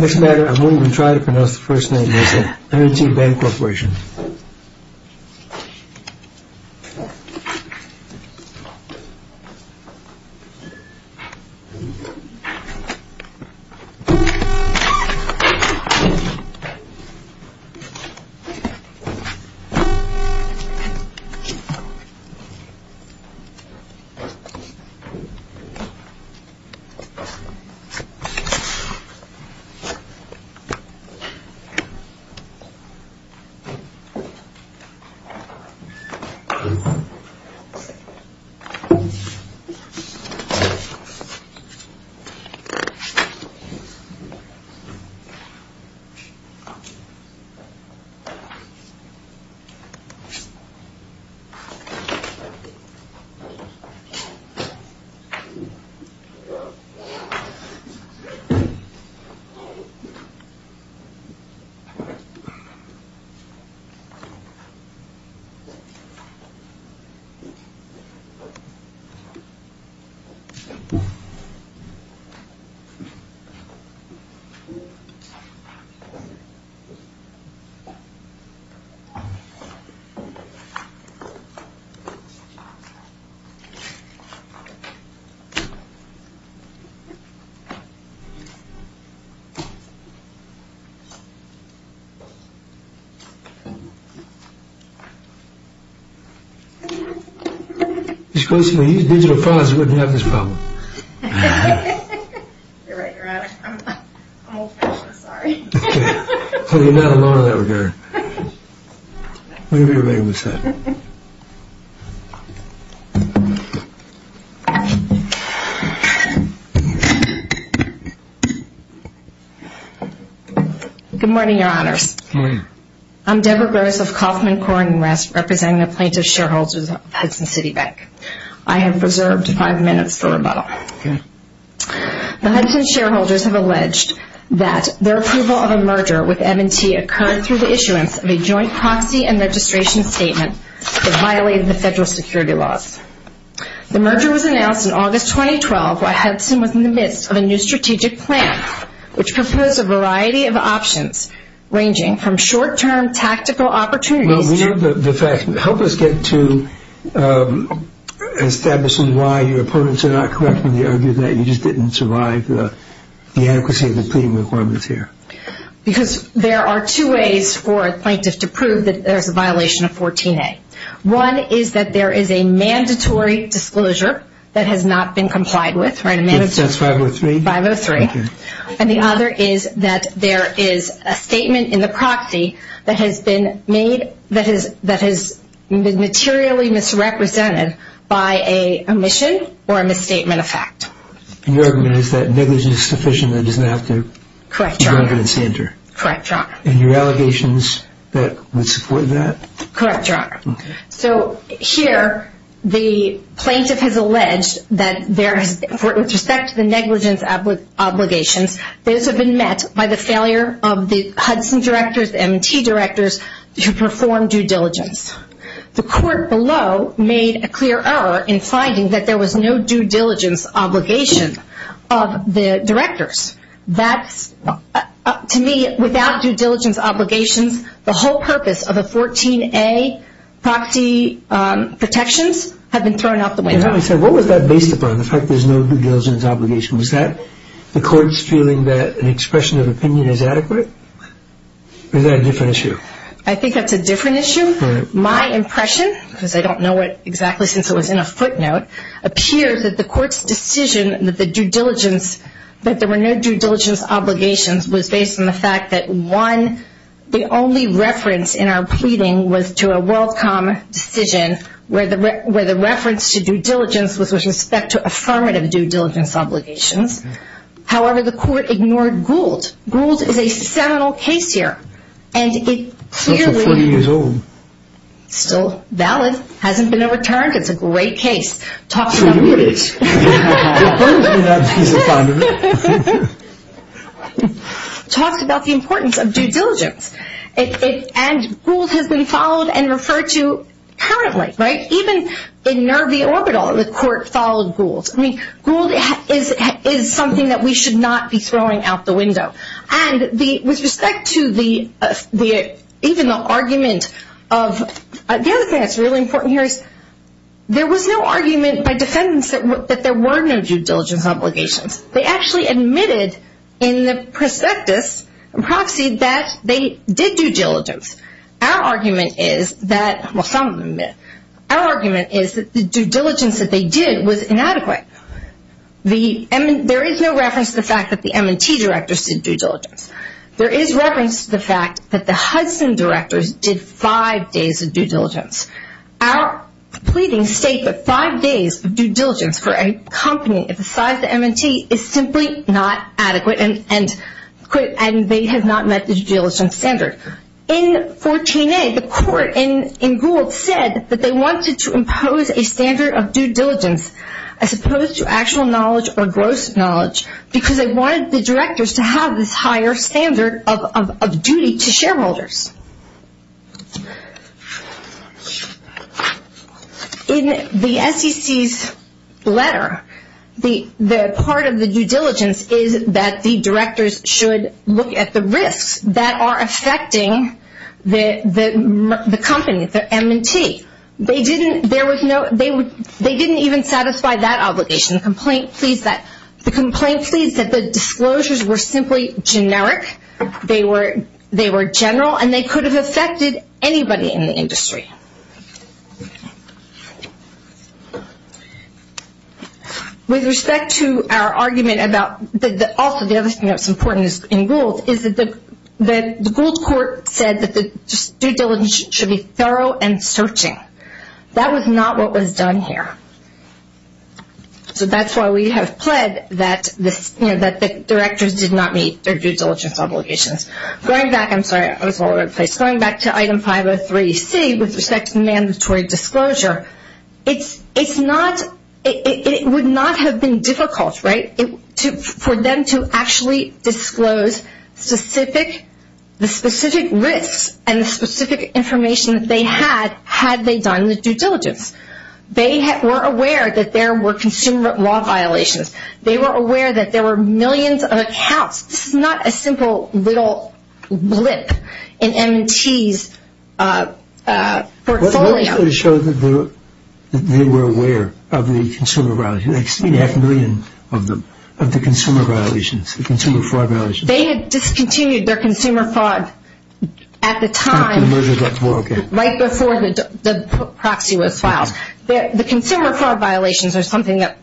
Next matter I won't even try to pronounce the first name M&T Bank Corporation M&T Bank Corporation M&T Bank Corporation Good morning, your honors. Good morning. I'm Debra Grose of Kauffman Corp. in West representing the plaintiff shareholders of Hudson City Bank. I have reserved five minutes for rebuttal. Okay. The Hudson shareholders have alleged that their approval of a merger with M&T occurred through the issuance of a joint proxy and registration statement that violated the federal security laws. The merger was announced in August 2012 while Hudson was in the midst of a new strategic plan which proposed a variety of options ranging from short-term tactical opportunities to... Well, we know the fact. Help us get to establishing why your opponents are not correcting the argument that you just didn't survive the adequacy of the pleading requirements here. Because there are two ways for a plaintiff to prove that there's a violation of 14A. One is that there is a mandatory disclosure that has not been complied with. That's 503? 503. Okay. And the other is that there is a statement in the proxy that has been made, that has been materially misrepresented by a omission or a misstatement of fact. And your argument is that negligence is sufficient and it doesn't have to... Correct, your honor. ...be evidence standard. Correct, your honor. And your allegations that would support that? Correct, your honor. So here the plaintiff has alleged that there is, with respect to the negligence obligations, those have been met by the failure of the Hudson directors and T directors to perform due diligence. The court below made a clear error in finding that there was no due diligence obligation of the directors. To me, without due diligence obligations, the whole purpose of a 14A proxy protections have been thrown out the window. Your honor, what was that based upon, the fact that there's no due diligence obligation? Was that the court's feeling that an expression of opinion is adequate? Or is that a different issue? I think that's a different issue. My impression, because I don't know exactly since it was in a footnote, appears that the court's decision that there were no due diligence obligations was based on the fact that, one, the only reference in our pleading was to a WorldCom decision where the reference to due diligence was with respect to affirmative due diligence obligations. However, the court ignored Gould. Gould is a seminal case here, and it clearly... It's not for 40 years old. Still valid. Hasn't been overturned. It's a great case. So do it. It burns in that piece of fondament. Talks about the importance of due diligence. And Gould has been followed and referred to currently, right? Even in Nervi Orbital, the court followed Gould. I mean, Gould is something that we should not be throwing out the window. And with respect to even the argument of... The other thing that's really important here is there was no argument by defendants that there were no due diligence obligations. They actually admitted in the prospectus and prophecy that they did due diligence. Our argument is that... Well, some admit. Our argument is that the due diligence that they did was inadequate. There is no reference to the fact that the M&T directors did due diligence. There is reference to the fact that the Hudson directors did five days of due diligence. Our pleadings state that five days of due diligence for a company the size of M&T is simply not adequate, and they have not met the due diligence standard. In 14A, the court in Gould said that they wanted to impose a standard of due diligence as opposed to actual knowledge or gross knowledge because they wanted the directors to have this higher standard of duty to shareholders. In the SEC's letter, the part of the due diligence is that the directors should look at the risks that are affecting the company, the M&T. They didn't even satisfy that obligation. The complaint pleads that the disclosures were simply generic. They were general, and they could have affected anybody in the industry. With respect to our argument about... Also, the other thing that's important in Gould is that the Gould court said that the due diligence should be thorough and searching. That was not what was done here. So that's why we have pled that the directors did not meet their due diligence obligations. Going back, I'm sorry, I was all over the place. Going back to item 503C with respect to mandatory disclosure, it would not have been difficult for them to actually disclose the specific risks and the specific information that they had, had they done the due diligence. They were aware that there were consumer law violations. They were aware that there were millions of accounts. This is not a simple little blip in M&T's portfolio. What did they show that they were aware of the consumer violations? They had seen half a million of the consumer violations, the consumer fraud violations. They had discontinued their consumer fraud at the time, right before the proxy was filed. The consumer fraud violations are something that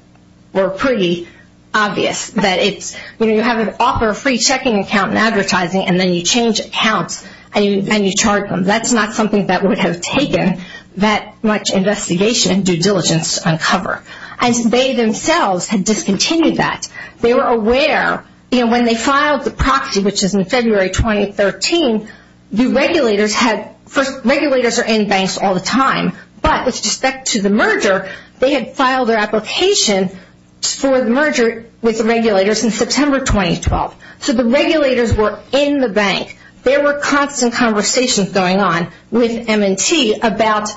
were pretty obvious. You have an offer of a free checking account in advertising, and then you change accounts and you charge them. That's not something that would have taken that much investigation and due diligence to uncover. They themselves had discontinued that. They were aware when they filed the proxy, which is in February 2013, the regulators are in banks all the time, but with respect to the merger, they had filed their application for the merger with the regulators in September 2012. So the regulators were in the bank. There were constant conversations going on with M&T about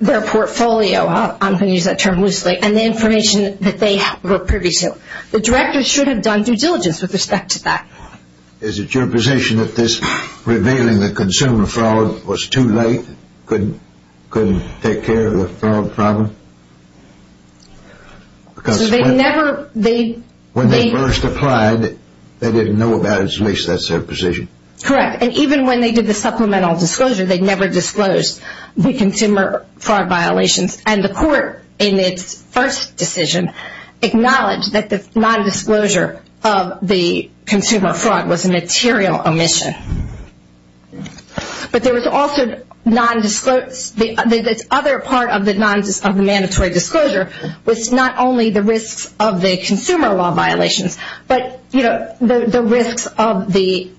their portfolio, I'm going to use that term loosely, and the information that they were privy to. The directors should have done due diligence with respect to that. Is it your position that this revealing the consumer fraud was too late, couldn't take care of the fraud problem? Because when they first applied, they didn't know about it, at least that's their position. Correct, and even when they did the supplemental disclosure, they never disclosed the consumer fraud violations. And the court, in its first decision, acknowledged that the nondisclosure of the consumer fraud was a material omission. But there was also this other part of the mandatory disclosure, was not only the risks of the consumer law violations, but the risks of the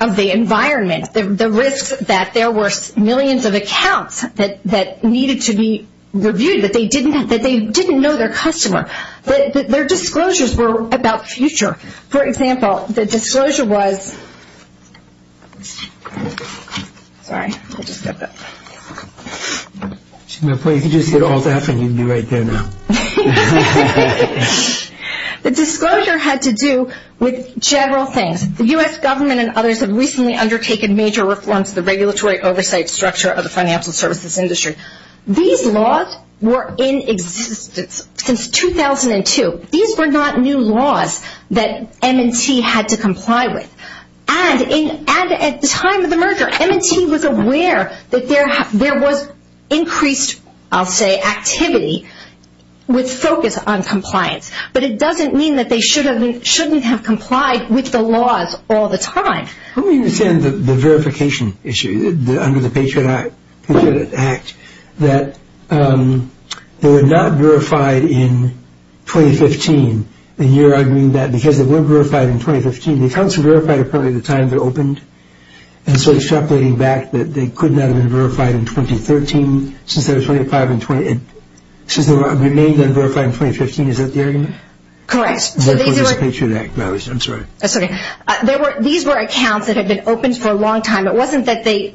environment, the risks that there were millions of accounts that needed to be reviewed, that they didn't know their customer. Their disclosures were about future. For example, the disclosure was, sorry, I just got that. If you could just get all that and you'd be right there now. The disclosure had to do with general things. The U.S. government and others have recently undertaken major reforms to the regulatory oversight structure of the financial services industry. These laws were in existence since 2002. These were not new laws that M&T had to comply with. And at the time of the merger, M&T was aware that there was increased, I'll say, activity with focus on compliance. But it doesn't mean that they shouldn't have complied with the laws all the time. Let me understand the verification issue under the Patriot Act, that they were not verified in 2015. And you're arguing that because they weren't verified in 2015, the accounts were verified at the time they were opened. And so extrapolating back that they could not have been verified in 2013, since they remained unverified in 2015, is that the argument? Correct. Therefore, there's a Patriot Act violation, I'm sorry. Sorry. These were accounts that had been opened for a long time. It wasn't that the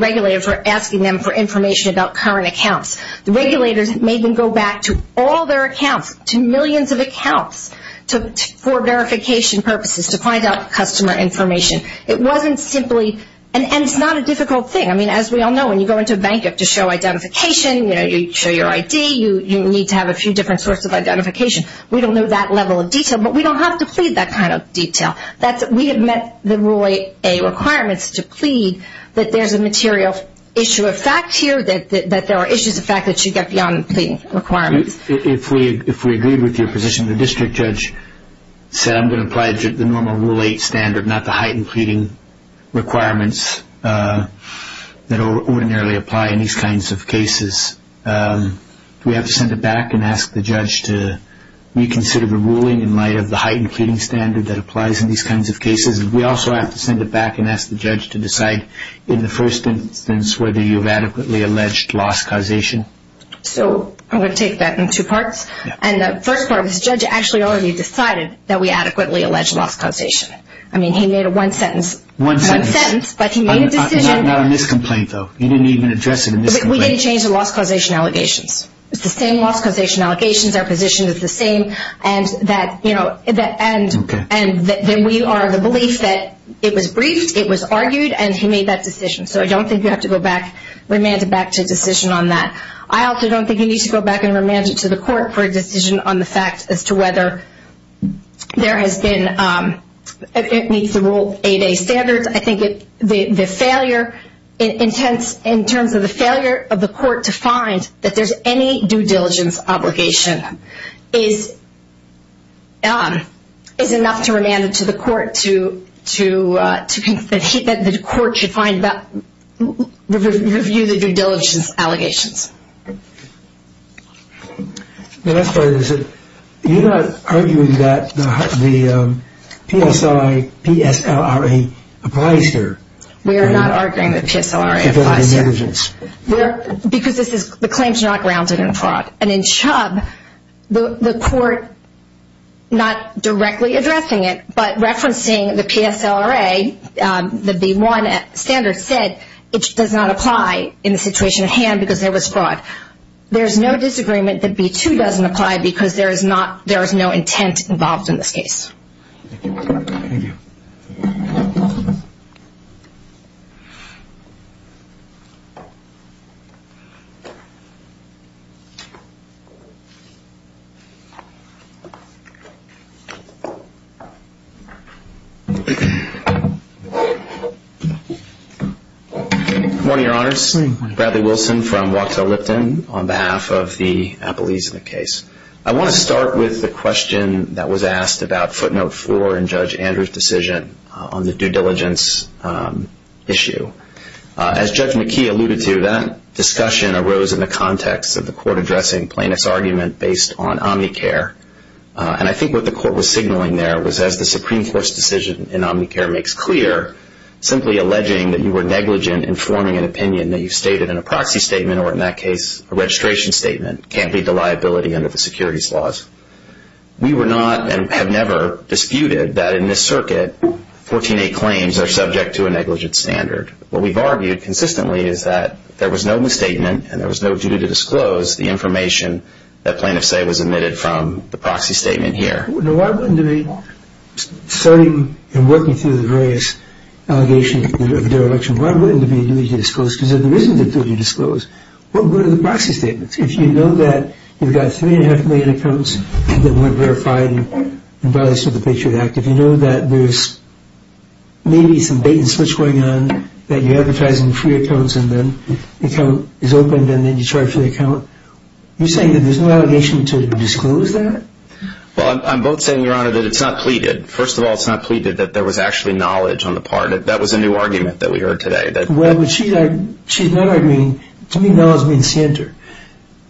regulators were asking them for information about current accounts. The regulators made them go back to all their accounts, to millions of accounts, for verification purposes, to find out customer information. It wasn't simply, and it's not a difficult thing. I mean, as we all know, when you go into a bank, you have to show identification. You show your ID. You need to have a few different sorts of identification. We don't know that level of detail, but we don't have to plead that kind of detail. We have met the Rule 8 requirements to plead that there's a material issue of fact here, that there are issues of fact that should get beyond the pleading requirements. If we agreed with your position, the district judge said I'm going to apply the normal Rule 8 standard, not the heightened pleading requirements that ordinarily apply in these kinds of cases. Do we have to send it back and ask the judge to reconsider the ruling in light of the heightened pleading standard that applies in these kinds of cases? Do we also have to send it back and ask the judge to decide in the first instance whether you've adequately alleged loss causation? So I'm going to take that in two parts. And the first part is the judge actually already decided that we adequately allege loss causation. I mean, he made a one-sentence, one sentence, but he made a decision. Not a miscomplaint, though. He didn't even address a miscomplaint. We didn't change the loss causation allegations. It's the same loss causation allegations. Our position is the same. And that we are of the belief that it was briefed, it was argued, and he made that decision. So I don't think you have to go back, remand it back to decision on that. I also don't think you need to go back and remand it to the court for a decision on the fact as to whether there has been, it meets the rule 8A standards. I think the failure, in terms of the failure of the court to find that there's any due diligence obligation is enough to remand it to the court to, that the court should review the due diligence allegations. The last part of this is, you're not arguing that the PSI, PSLRA applies here. We are not arguing that PSLRA applies here. Because this is, the claims are not grounded in fraud. And in Chubb, the court, not directly addressing it, but referencing the PSLRA, the B1 standard, said it does not apply in the situation at hand because there was fraud. There's no disagreement that B2 doesn't apply because there is no intent involved in this case. Thank you. Good morning, Your Honors. Good morning. Bradley Wilson from Wachtell Lipton on behalf of the Appalachian case. I want to start with the question that was asked about footnote 4 in Judge Andrew's decision on the due diligence issue. As Judge McKee alluded to, that discussion arose in the context of the court addressing plaintiff's argument based on Omnicare. And I think what the court was signaling there was, as the Supreme Court's decision in Omnicare makes clear, simply alleging that you were negligent in forming an opinion that you stated in a proxy statement, or in that case, a registration statement, can't lead to liability under the securities laws. We were not and have never disputed that in this circuit, 14A claims are subject to a negligent standard. What we've argued consistently is that there was no misstatement and there was no duty to disclose the information that plaintiff say was omitted from the proxy statement here. Why wouldn't there be, starting and working through the various allegations of dereliction, why wouldn't there be a duty to disclose, because if there isn't a duty to disclose, what were the proxy statements? If you know that you've got three and a half million accounts that weren't verified in violation of the Patriot Act, if you know that there's maybe some bait and switch going on, that you're advertising free accounts and then the account is opened and then you charge for the account, you're saying that there's no allegation to disclose that? Well, I'm both saying, Your Honor, that it's not pleaded. First of all, it's not pleaded that there was actually knowledge on the part. That was a new argument that we heard today. Well, what she's arguing, she's not arguing, to me, knowledge means center.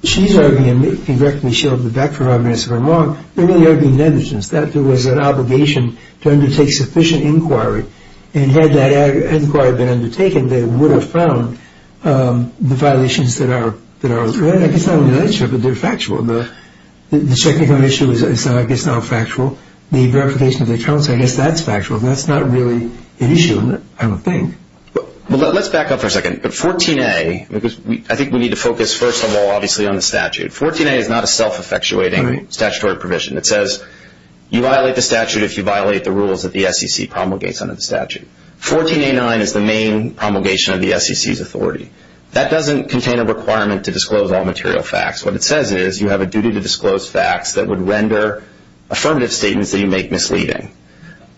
She's arguing, and correct me if I'm wrong, they're really arguing negligence, that there was an obligation to undertake sufficient inquiry, and had that inquiry been undertaken, they would have found the violations that are there. It's not a negligent, but they're factual. The checking of an issue is, I guess, not factual. The verification of the accounts, I guess that's factual. That's not really an issue, I don't think. Well, let's back up for a second. But 14A, because I think we need to focus, first of all, obviously, on the statute. 14A is not a self-effectuating statutory provision. It says you violate the statute if you violate the rules that the SEC promulgates under the statute. 14A9 is the main promulgation of the SEC's authority. That doesn't contain a requirement to disclose all material facts. What it says is you have a duty to disclose facts that would render affirmative statements that you make misleading.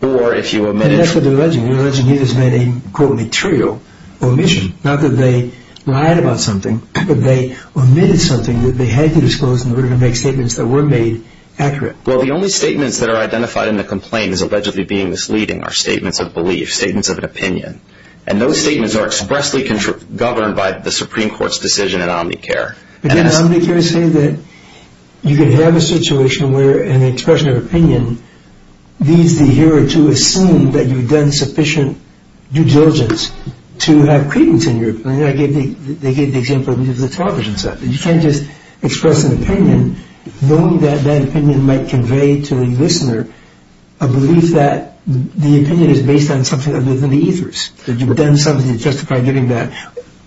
And that's what they're alleging. They're alleging he has made a, quote, material omission. Not that they lied about something, but they omitted something that they had to disclose in order to make statements that were made accurate. Well, the only statements that are identified in the complaint as allegedly being misleading are statements of belief, statements of an opinion. And those statements are expressly governed by the Supreme Court's decision in Omnicare. Again, Omnicare is saying that you can have a situation where an expression of opinion leads the hearer to assume that you've done sufficient due diligence to have credence in your opinion. They gave the example of the television set. You can't just express an opinion knowing that that opinion might convey to a listener a belief that the opinion is based on something other than the ethers, that you've done something to justify giving that.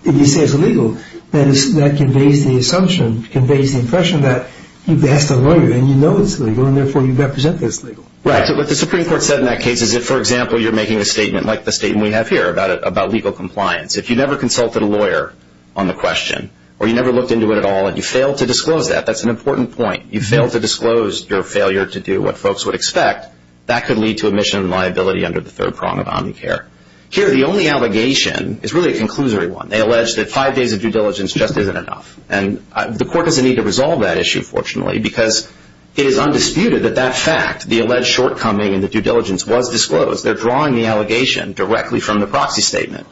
If you say it's illegal, then that conveys the assumption, conveys the impression that you've asked a lawyer and you know it's illegal, and therefore you represent that it's legal. Right. So what the Supreme Court said in that case is that, for example, you're making a statement like the statement we have here about legal compliance. If you never consulted a lawyer on the question or you never looked into it at all and you failed to disclose that, that's an important point. You failed to disclose your failure to do what folks would expect, that could lead to omission and liability under the third prong of Omnicare. Here, the only allegation is really a conclusory one. They allege that five days of due diligence just isn't enough. And the court doesn't need to resolve that issue, fortunately, because it is undisputed that that fact, the alleged shortcoming in the due diligence, was disclosed. They're drawing the allegation directly from the proxy statement.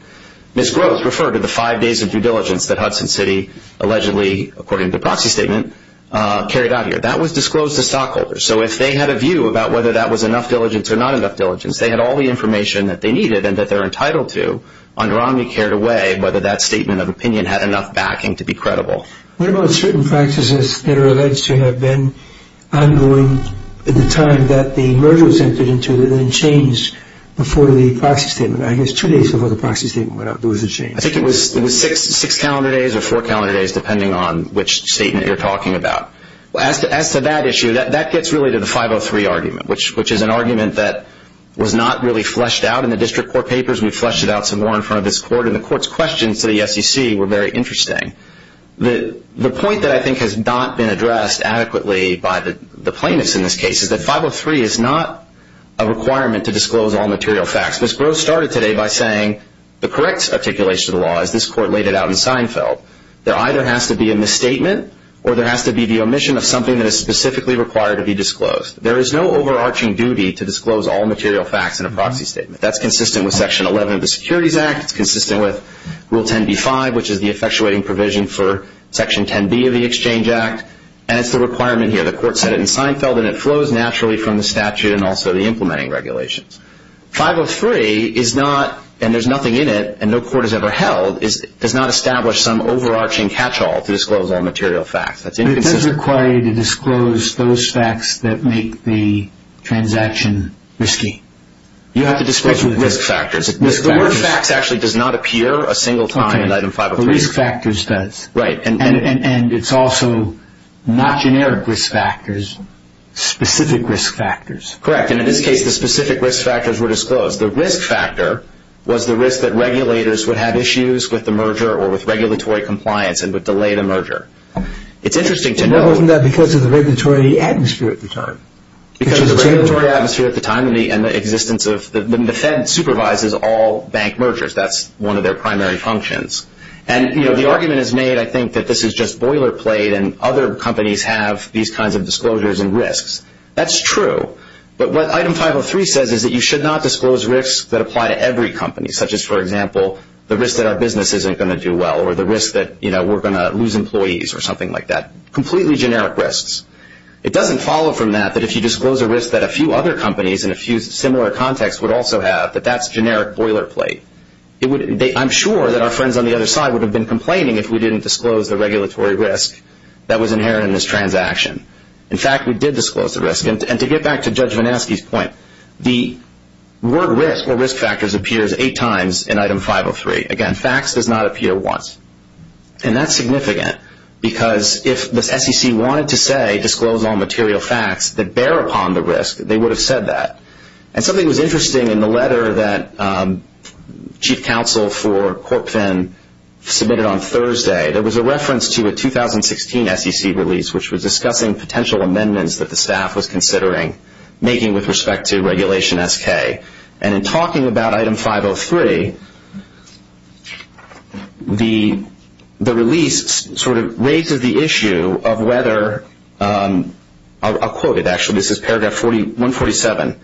Ms. Groves referred to the five days of due diligence that Hudson City allegedly, according to the proxy statement, carried out here. That was disclosed to stockholders. So if they had a view about whether that was enough diligence or not enough diligence, they had all the information that they needed and that they're entitled to under Omnicare to weigh whether that statement of opinion had enough backing to be credible. What about certain practices that are alleged to have been ongoing at the time that the merger was entered into that then changed before the proxy statement? I guess two days before the proxy statement went out, there was a change. I think it was six calendar days or four calendar days, depending on which statement you're talking about. As to that issue, that gets really to the 503 argument, which is an argument that was not really fleshed out in the district court papers. We fleshed it out some more in front of this court, and the court's questions to the SEC were very interesting. The point that I think has not been addressed adequately by the plaintiffs in this case is that 503 is not a requirement to disclose all material facts. Ms. Groves started today by saying the correct articulation of the law, as this court laid it out in Seinfeld, there either has to be a misstatement or there has to be the omission of something that is specifically required to be disclosed. There is no overarching duty to disclose all material facts in a proxy statement. That's consistent with Section 11 of the Securities Act. It's consistent with Rule 10b-5, which is the effectuating provision for Section 10b of the Exchange Act, and it's the requirement here. The court said it in Seinfeld, and it flows naturally from the statute and also the implementing regulations. 503 is not, and there's nothing in it, and no court has ever held, does not establish some overarching catch-all to disclose all material facts. That's inconsistent. Does it require you to disclose those facts that make the transaction risky? You have to disclose the risk factors. The word facts actually does not appear a single time in Item 503. The risk factors does. Right. And it's also not generic risk factors, specific risk factors. Correct. And in this case, the specific risk factors were disclosed. The risk factor was the risk that regulators would have issues with the merger or with regulatory compliance and would delay the merger. It's interesting to note. But wasn't that because of the regulatory atmosphere at the time? Because of the regulatory atmosphere at the time and the existence of, the Fed supervises all bank mergers. That's one of their primary functions. And, you know, the argument is made, I think, that this is just boilerplate and other companies have these kinds of disclosures and risks. That's true. But what Item 503 says is that you should not disclose risks that apply to every company, such as, for example, the risk that our business isn't going to do well or the risk that, you know, we're going to lose employees or something like that. Completely generic risks. It doesn't follow from that that if you disclose a risk that a few other companies in a few similar contexts would also have, that that's generic boilerplate. I'm sure that our friends on the other side would have been complaining if we didn't disclose the regulatory risk that was inherent in this transaction. In fact, we did disclose the risk. And to get back to Judge Vanaski's point, the word risk or risk factors appears eight times in Item 503. Again, facts does not appear once. And that's significant because if the SEC wanted to say, disclose all material facts that bear upon the risk, they would have said that. And something was interesting in the letter that Chief Counsel for CorpFin submitted on Thursday. There was a reference to a 2016 SEC release which was discussing potential amendments that the staff was considering making with respect to Regulation SK. And in talking about Item 503, the release sort of raises the issue of whether, I'll quote it actually, this is Paragraph 147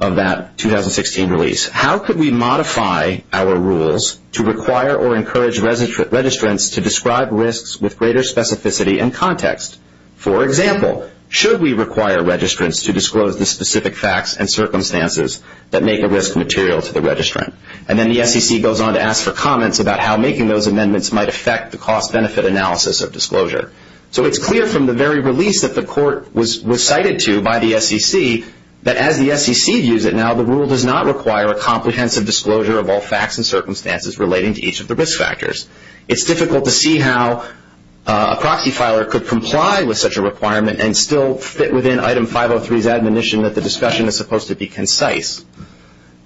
of that 2016 release. How could we modify our rules to require or encourage registrants to describe risks with greater specificity and context? For example, should we require registrants to disclose the specific facts and circumstances that make a risk material to the registrant? And then the SEC goes on to ask for comments about how making those amendments might affect the cost-benefit analysis of disclosure. So it's clear from the very release that the court was cited to by the SEC that as the SEC views it now, the rule does not require a comprehensive disclosure of all facts and circumstances relating to each of the risk factors. It's difficult to see how a proxy filer could comply with such a requirement and still fit within Item 503's admonition that the discussion is supposed to be concise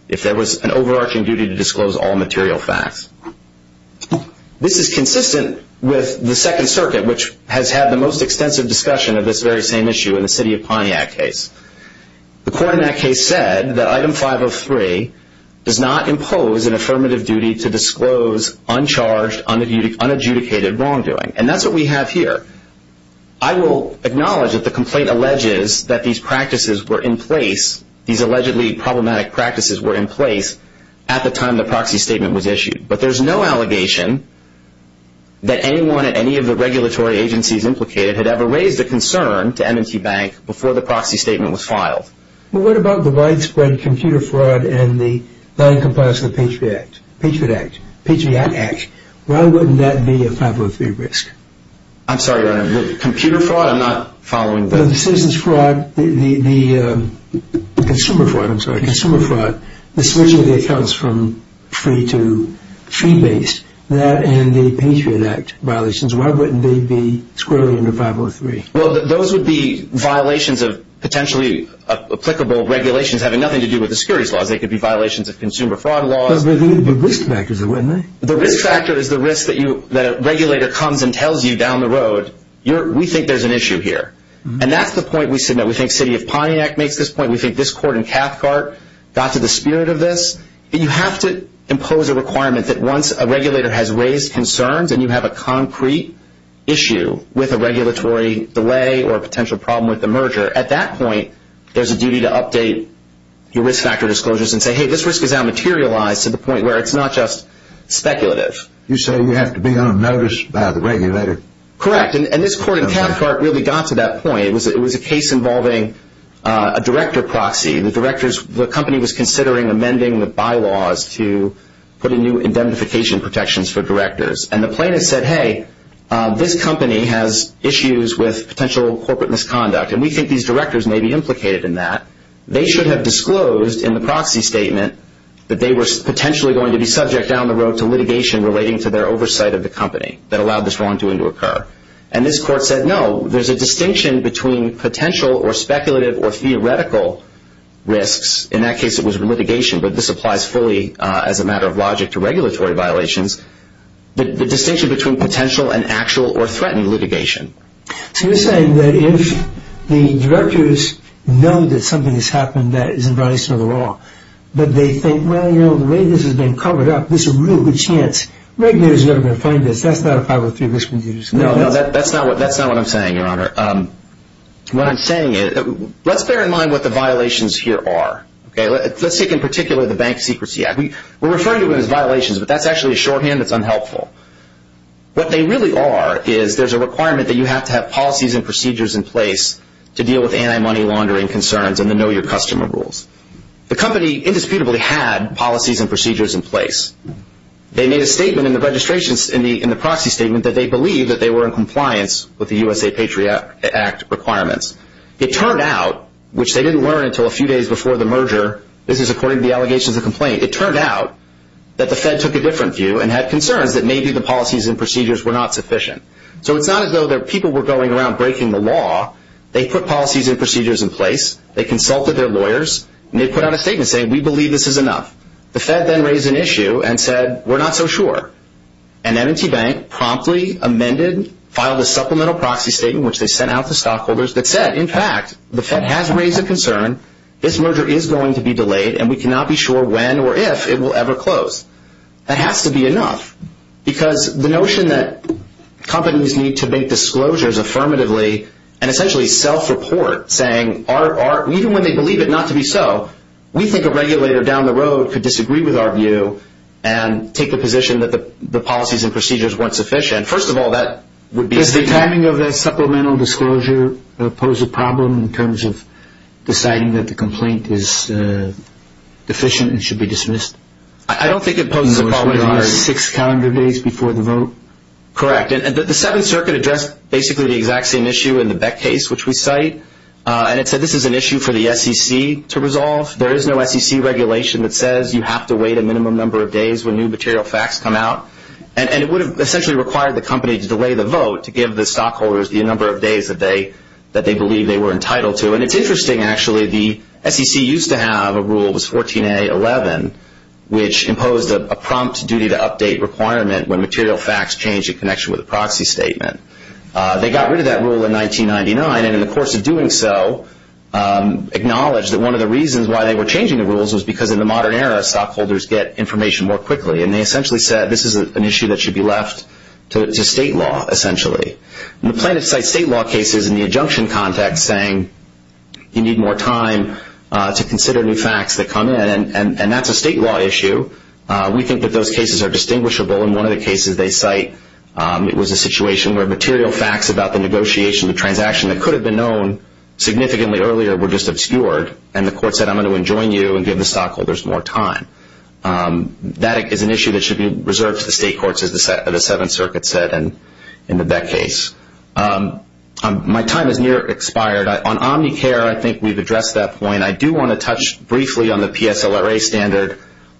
if there was an overarching duty to disclose all material facts. This is consistent with the Second Circuit, which has had the most extensive discussion of this very same issue in the City of Pontiac case. The court in that case said that Item 503 does not impose an affirmative duty to disclose uncharged, unadjudicated wrongdoing. And that's what we have here. I will acknowledge that the complaint alleges that these practices were in place, these allegedly problematic practices were in place at the time the proxy statement was issued. But there's no allegation that anyone at any of the regulatory agencies implicated had ever raised a concern to M&T Bank before the proxy statement was filed. Well, what about the widespread computer fraud and the noncompliance of the Patriot Act? Patriot Act? Patriot Act? Why wouldn't that be a 503 risk? I'm sorry, Your Honor. Computer fraud? I'm not following that. The citizen's fraud, the consumer fraud, I'm sorry, consumer fraud, the switching of the accounts from free to fee-based, that and the Patriot Act violations, why wouldn't they be squarely under 503? Well, those would be violations of potentially applicable regulations having nothing to do with the securities laws. They could be violations of consumer fraud laws. But they would be risk factors, wouldn't they? The risk factor is the risk that a regulator comes and tells you down the road, we think there's an issue here. And that's the point we submit. We think City of Pontiac makes this point. We think this court in Cathcart got to the spirit of this. But you have to impose a requirement that once a regulator has raised concerns and you have a concrete issue with a regulatory delay or a potential problem with the merger, at that point there's a duty to update your risk factor disclosures and say, hey, this risk is now materialized to the point where it's not just speculative. You say you have to be on notice by the regulator. Correct, and this court in Cathcart really got to that point. It was a case involving a director proxy. The company was considering amending the bylaws to put in new indemnification protections for directors. And the plaintiff said, hey, this company has issues with potential corporate misconduct, and we think these directors may be implicated in that. They should have disclosed in the proxy statement that they were potentially going to be subject down the road to litigation relating to their oversight of the company that allowed this wrongdoing to occur. And this court said, no, there's a distinction between potential or speculative or theoretical risks. In that case it was litigation, but this applies fully as a matter of logic to regulatory violations. The distinction between potential and actual or threatening litigation. So you're saying that if the directors know that something has happened that is in violation of the law, but they think, well, you know, the way this has been covered up, there's a real good chance regulators are never going to find this, that's not a 503 risk we can use. No, that's not what I'm saying, Your Honor. What I'm saying is, let's bear in mind what the violations here are. Let's take in particular the Bank Secrecy Act. We're referring to it as violations, but that's actually a shorthand that's unhelpful. What they really are is there's a requirement that you have to have policies and procedures in place to deal with anti-money laundering concerns and the know-your-customer rules. The company indisputably had policies and procedures in place. They made a statement in the registration, in the proxy statement, that they believed that they were in compliance with the USA Patriot Act requirements. It turned out, which they didn't learn until a few days before the merger, this is according to the allegations of complaint, it turned out that the Fed took a different view and had concerns that maybe the policies and procedures were not sufficient. So it's not as though their people were going around breaking the law. They put policies and procedures in place, they consulted their lawyers, and they put out a statement saying, we believe this is enough. The Fed then raised an issue and said, we're not so sure. And M&T Bank promptly amended, filed a supplemental proxy statement, which they sent out to stockholders, that said, in fact, the Fed has raised a concern, this merger is going to be delayed, and we cannot be sure when or if it will ever close. That has to be enough. Because the notion that companies need to make disclosures affirmatively and essentially self-report, saying, even when they believe it not to be so, we think a regulator down the road could disagree with our view and take the position that the policies and procedures weren't sufficient. First of all, that would be a mistake. Did the timing of that supplemental disclosure pose a problem in terms of deciding that the complaint is deficient and should be dismissed? I don't think it posed a problem. Six calendar days before the vote? Correct. The Seventh Circuit addressed basically the exact same issue in the Beck case, which we cite, and it said this is an issue for the SEC to resolve. There is no SEC regulation that says you have to wait a minimum number of days when new material facts come out. And it would have essentially required the company to delay the vote to give the stockholders the number of days that they believe they were entitled to. And it's interesting, actually. The SEC used to have a rule, this 14A11, which imposed a prompt duty-to-update requirement when material facts changed in connection with a proxy statement. They got rid of that rule in 1999, and in the course of doing so, acknowledged that one of the reasons why they were changing the rules was because in the modern era, stockholders get information more quickly. And they essentially said this is an issue that should be left to state law, essentially. And the plaintiff cites state law cases in the adjunction context, saying you need more time to consider new facts that come in, and that's a state law issue. We think that those cases are distinguishable. In one of the cases they cite, it was a situation where material facts about the negotiation, the transaction that could have been known significantly earlier were just obscured, and the court said I'm going to enjoin you and give the stockholders more time. That is an issue that should be reserved to the state courts, as the Seventh Circuit said in the Beck case. My time is near expired. On Omnicare, I think we've addressed that point. I do want to touch briefly on the PSLRA standard.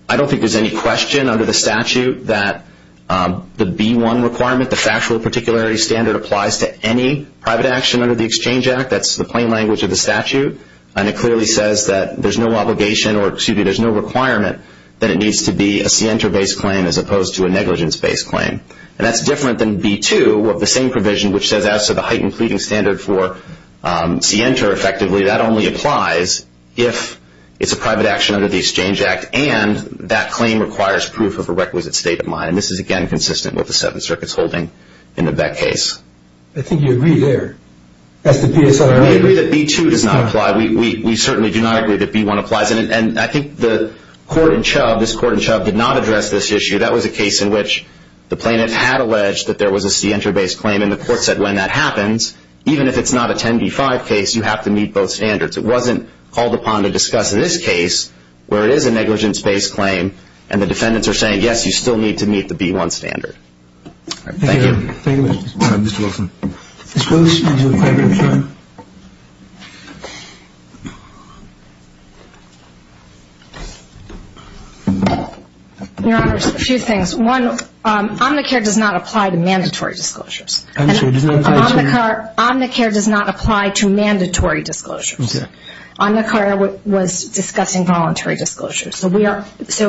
I don't think there's any question under the statute that the B1 requirement, the factual particularity standard, applies to any private action under the Exchange Act. That's the plain language of the statute. And it clearly says that there's no obligation, or excuse me, there's no requirement that it needs to be a CENTER-based claim as opposed to a negligence-based claim. And that's different than B2, the same provision which says as to the heightened pleading standard for CENTER, effectively that only applies if it's a private action under the Exchange Act, and that claim requires proof of a requisite state of mind. And this is, again, consistent with the Seventh Circuit's holding in the Beck case. I think you agree there. We agree that B2 does not apply. We certainly do not agree that B1 applies. And I think the court in Chubb, this court in Chubb, did not address this issue. That was a case in which the plaintiff had alleged that there was a CENTER-based claim, and the court said when that happens, even if it's not a 10b-5 case, you have to meet both standards. It wasn't called upon to discuss this case where it is a negligence-based claim, and the defendants are saying, yes, you still need to meet the B1 standard. Thank you. Thank you, Mr. Wilson. Ms. Wilson, did you have a question? Your Honor, a few things. One, Omnicare does not apply to mandatory disclosures. Omnicare does not apply to mandatory disclosures. Omnicare was discussing voluntary disclosures, so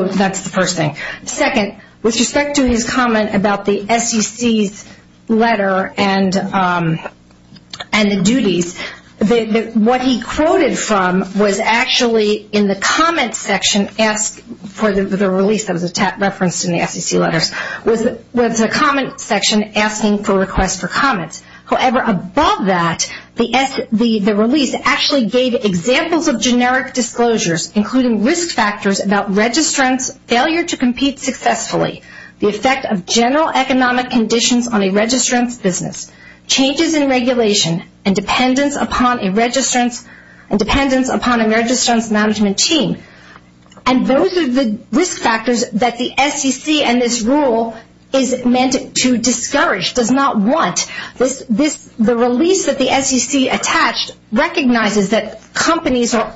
that's the first thing. Second, with respect to his comment about the SEC's letter and the duties, what he quoted from was actually in the comment section asked for the release, that was referenced in the SEC letters, was a comment section asking for requests for comments. However, above that, the release actually gave examples of generic disclosures, including risk factors about registrants' failure to compete successfully, the effect of general economic conditions on a registrant's business, changes in regulation, and dependence upon a registrant's management team. And those are the risk factors that the SEC and this rule is meant to discourage, does not want. The release that the SEC attached recognizes that companies are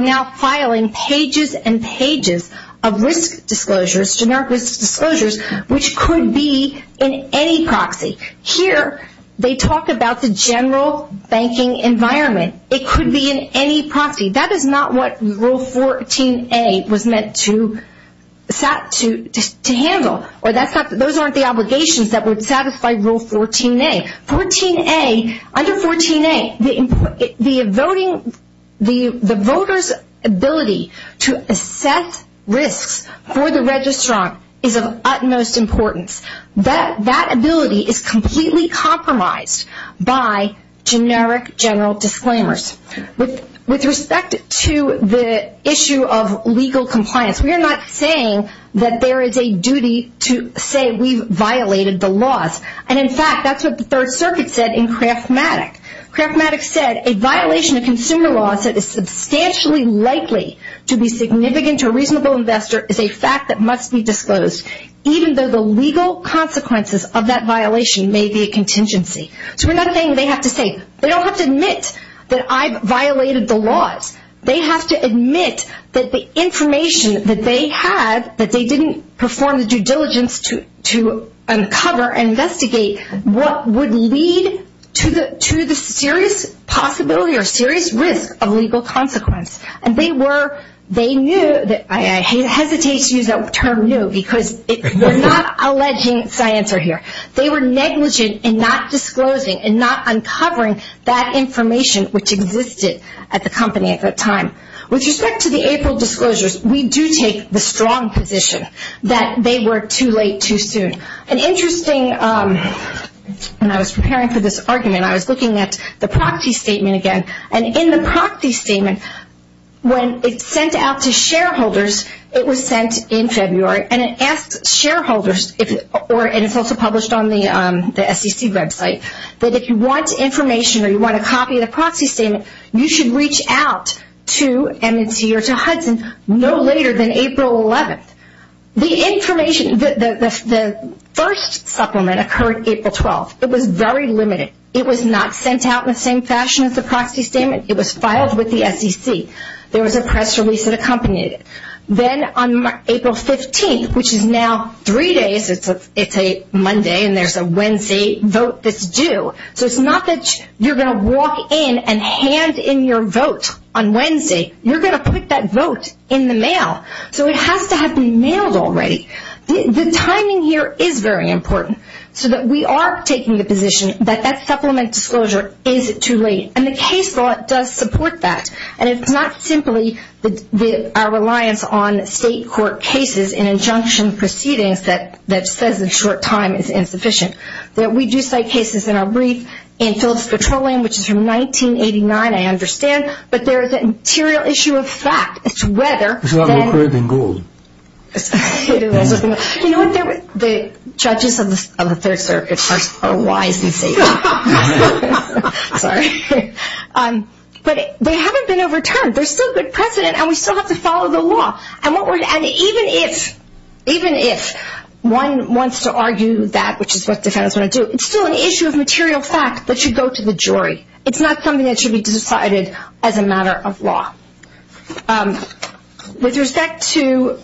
now filing pages and pages of risk disclosures, generic risk disclosures, which could be in any proxy. Here, they talk about the general banking environment. It could be in any proxy. That is not what Rule 14A was meant to handle, or those aren't the obligations that would satisfy Rule 14A. Under 14A, the voters' ability to assess risks for the registrant is of utmost importance. That ability is completely compromised by generic general disclaimers. With respect to the issue of legal compliance, we are not saying that there is a duty to say we've violated the laws. And in fact, that's what the Third Circuit said in Kraft-Matic. Kraft-Matic said, A violation of consumer law that is substantially likely to be significant to a reasonable investor is a fact that must be disclosed, even though the legal consequences of that violation may be a contingency. So we're not saying they have to say, They don't have to admit that I've violated the laws. They have to admit that the information that they had, that they didn't perform the due diligence to uncover and investigate what would lead to the serious possibility or serious risk of legal consequence. And they were, they knew, I hesitate to use that term, knew, because we're not alleging science here. They were negligent in not disclosing and not uncovering that information, which existed at the company at that time. With respect to the April disclosures, we do take the strong position that they were too late too soon. An interesting, when I was preparing for this argument, I was looking at the Procty Statement again. And in the Procty Statement, when it's sent out to shareholders, it was sent in February, and it asks shareholders, and it's also published on the SEC website, that if you want information or you want a copy of the Procty Statement, you should reach out to MNC or to Hudson no later than April 11th. The information, the first supplement occurred April 12th. It was very limited. It was not sent out in the same fashion as the Procty Statement. It was filed with the SEC. There was a press release that accompanied it. Then on April 15th, which is now three days, it's a Monday and there's a Wednesday vote that's due. So it's not that you're going to walk in and hand in your vote on Wednesday. You're going to put that vote in the mail. So it has to have been mailed already. The timing here is very important so that we are taking the position that that supplement disclosure is too late. And the case law does support that. And it's not simply our reliance on state court cases and injunction proceedings that says a short time is insufficient. We do cite cases in our brief in Phillips Petroleum, which is from 1989, I understand, but there is an interior issue of fact as to whether. It's a lot more crude than gold. You know what, the judges of the Third Circuit are wise and safe. Sorry. But they haven't been overturned. There's still good precedent and we still have to follow the law. And even if one wants to argue that, which is what defendants want to do, it's still an issue of material fact that should go to the jury. It's not something that should be decided as a matter of law. With respect to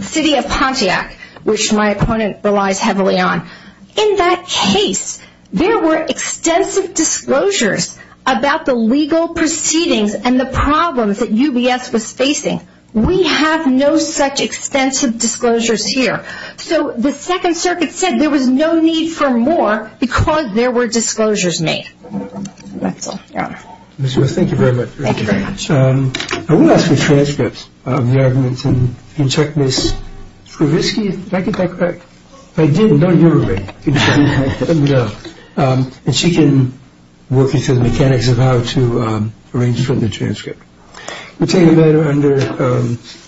City of Pontiac, which my opponent relies heavily on, in that case there were extensive disclosures about the legal proceedings and the problems that UBS was facing. We have no such extensive disclosures here. So the Second Circuit said there was no need for more because there were disclosures made. That's all. Thank you very much. Thank you very much. I want to ask for transcripts of the arguments. You can check Ms. Krovitsky. Did I get that correct? I didn't. No, you were right. And she can work into the mechanics of how to arrange for the transcript. We'll take a minute.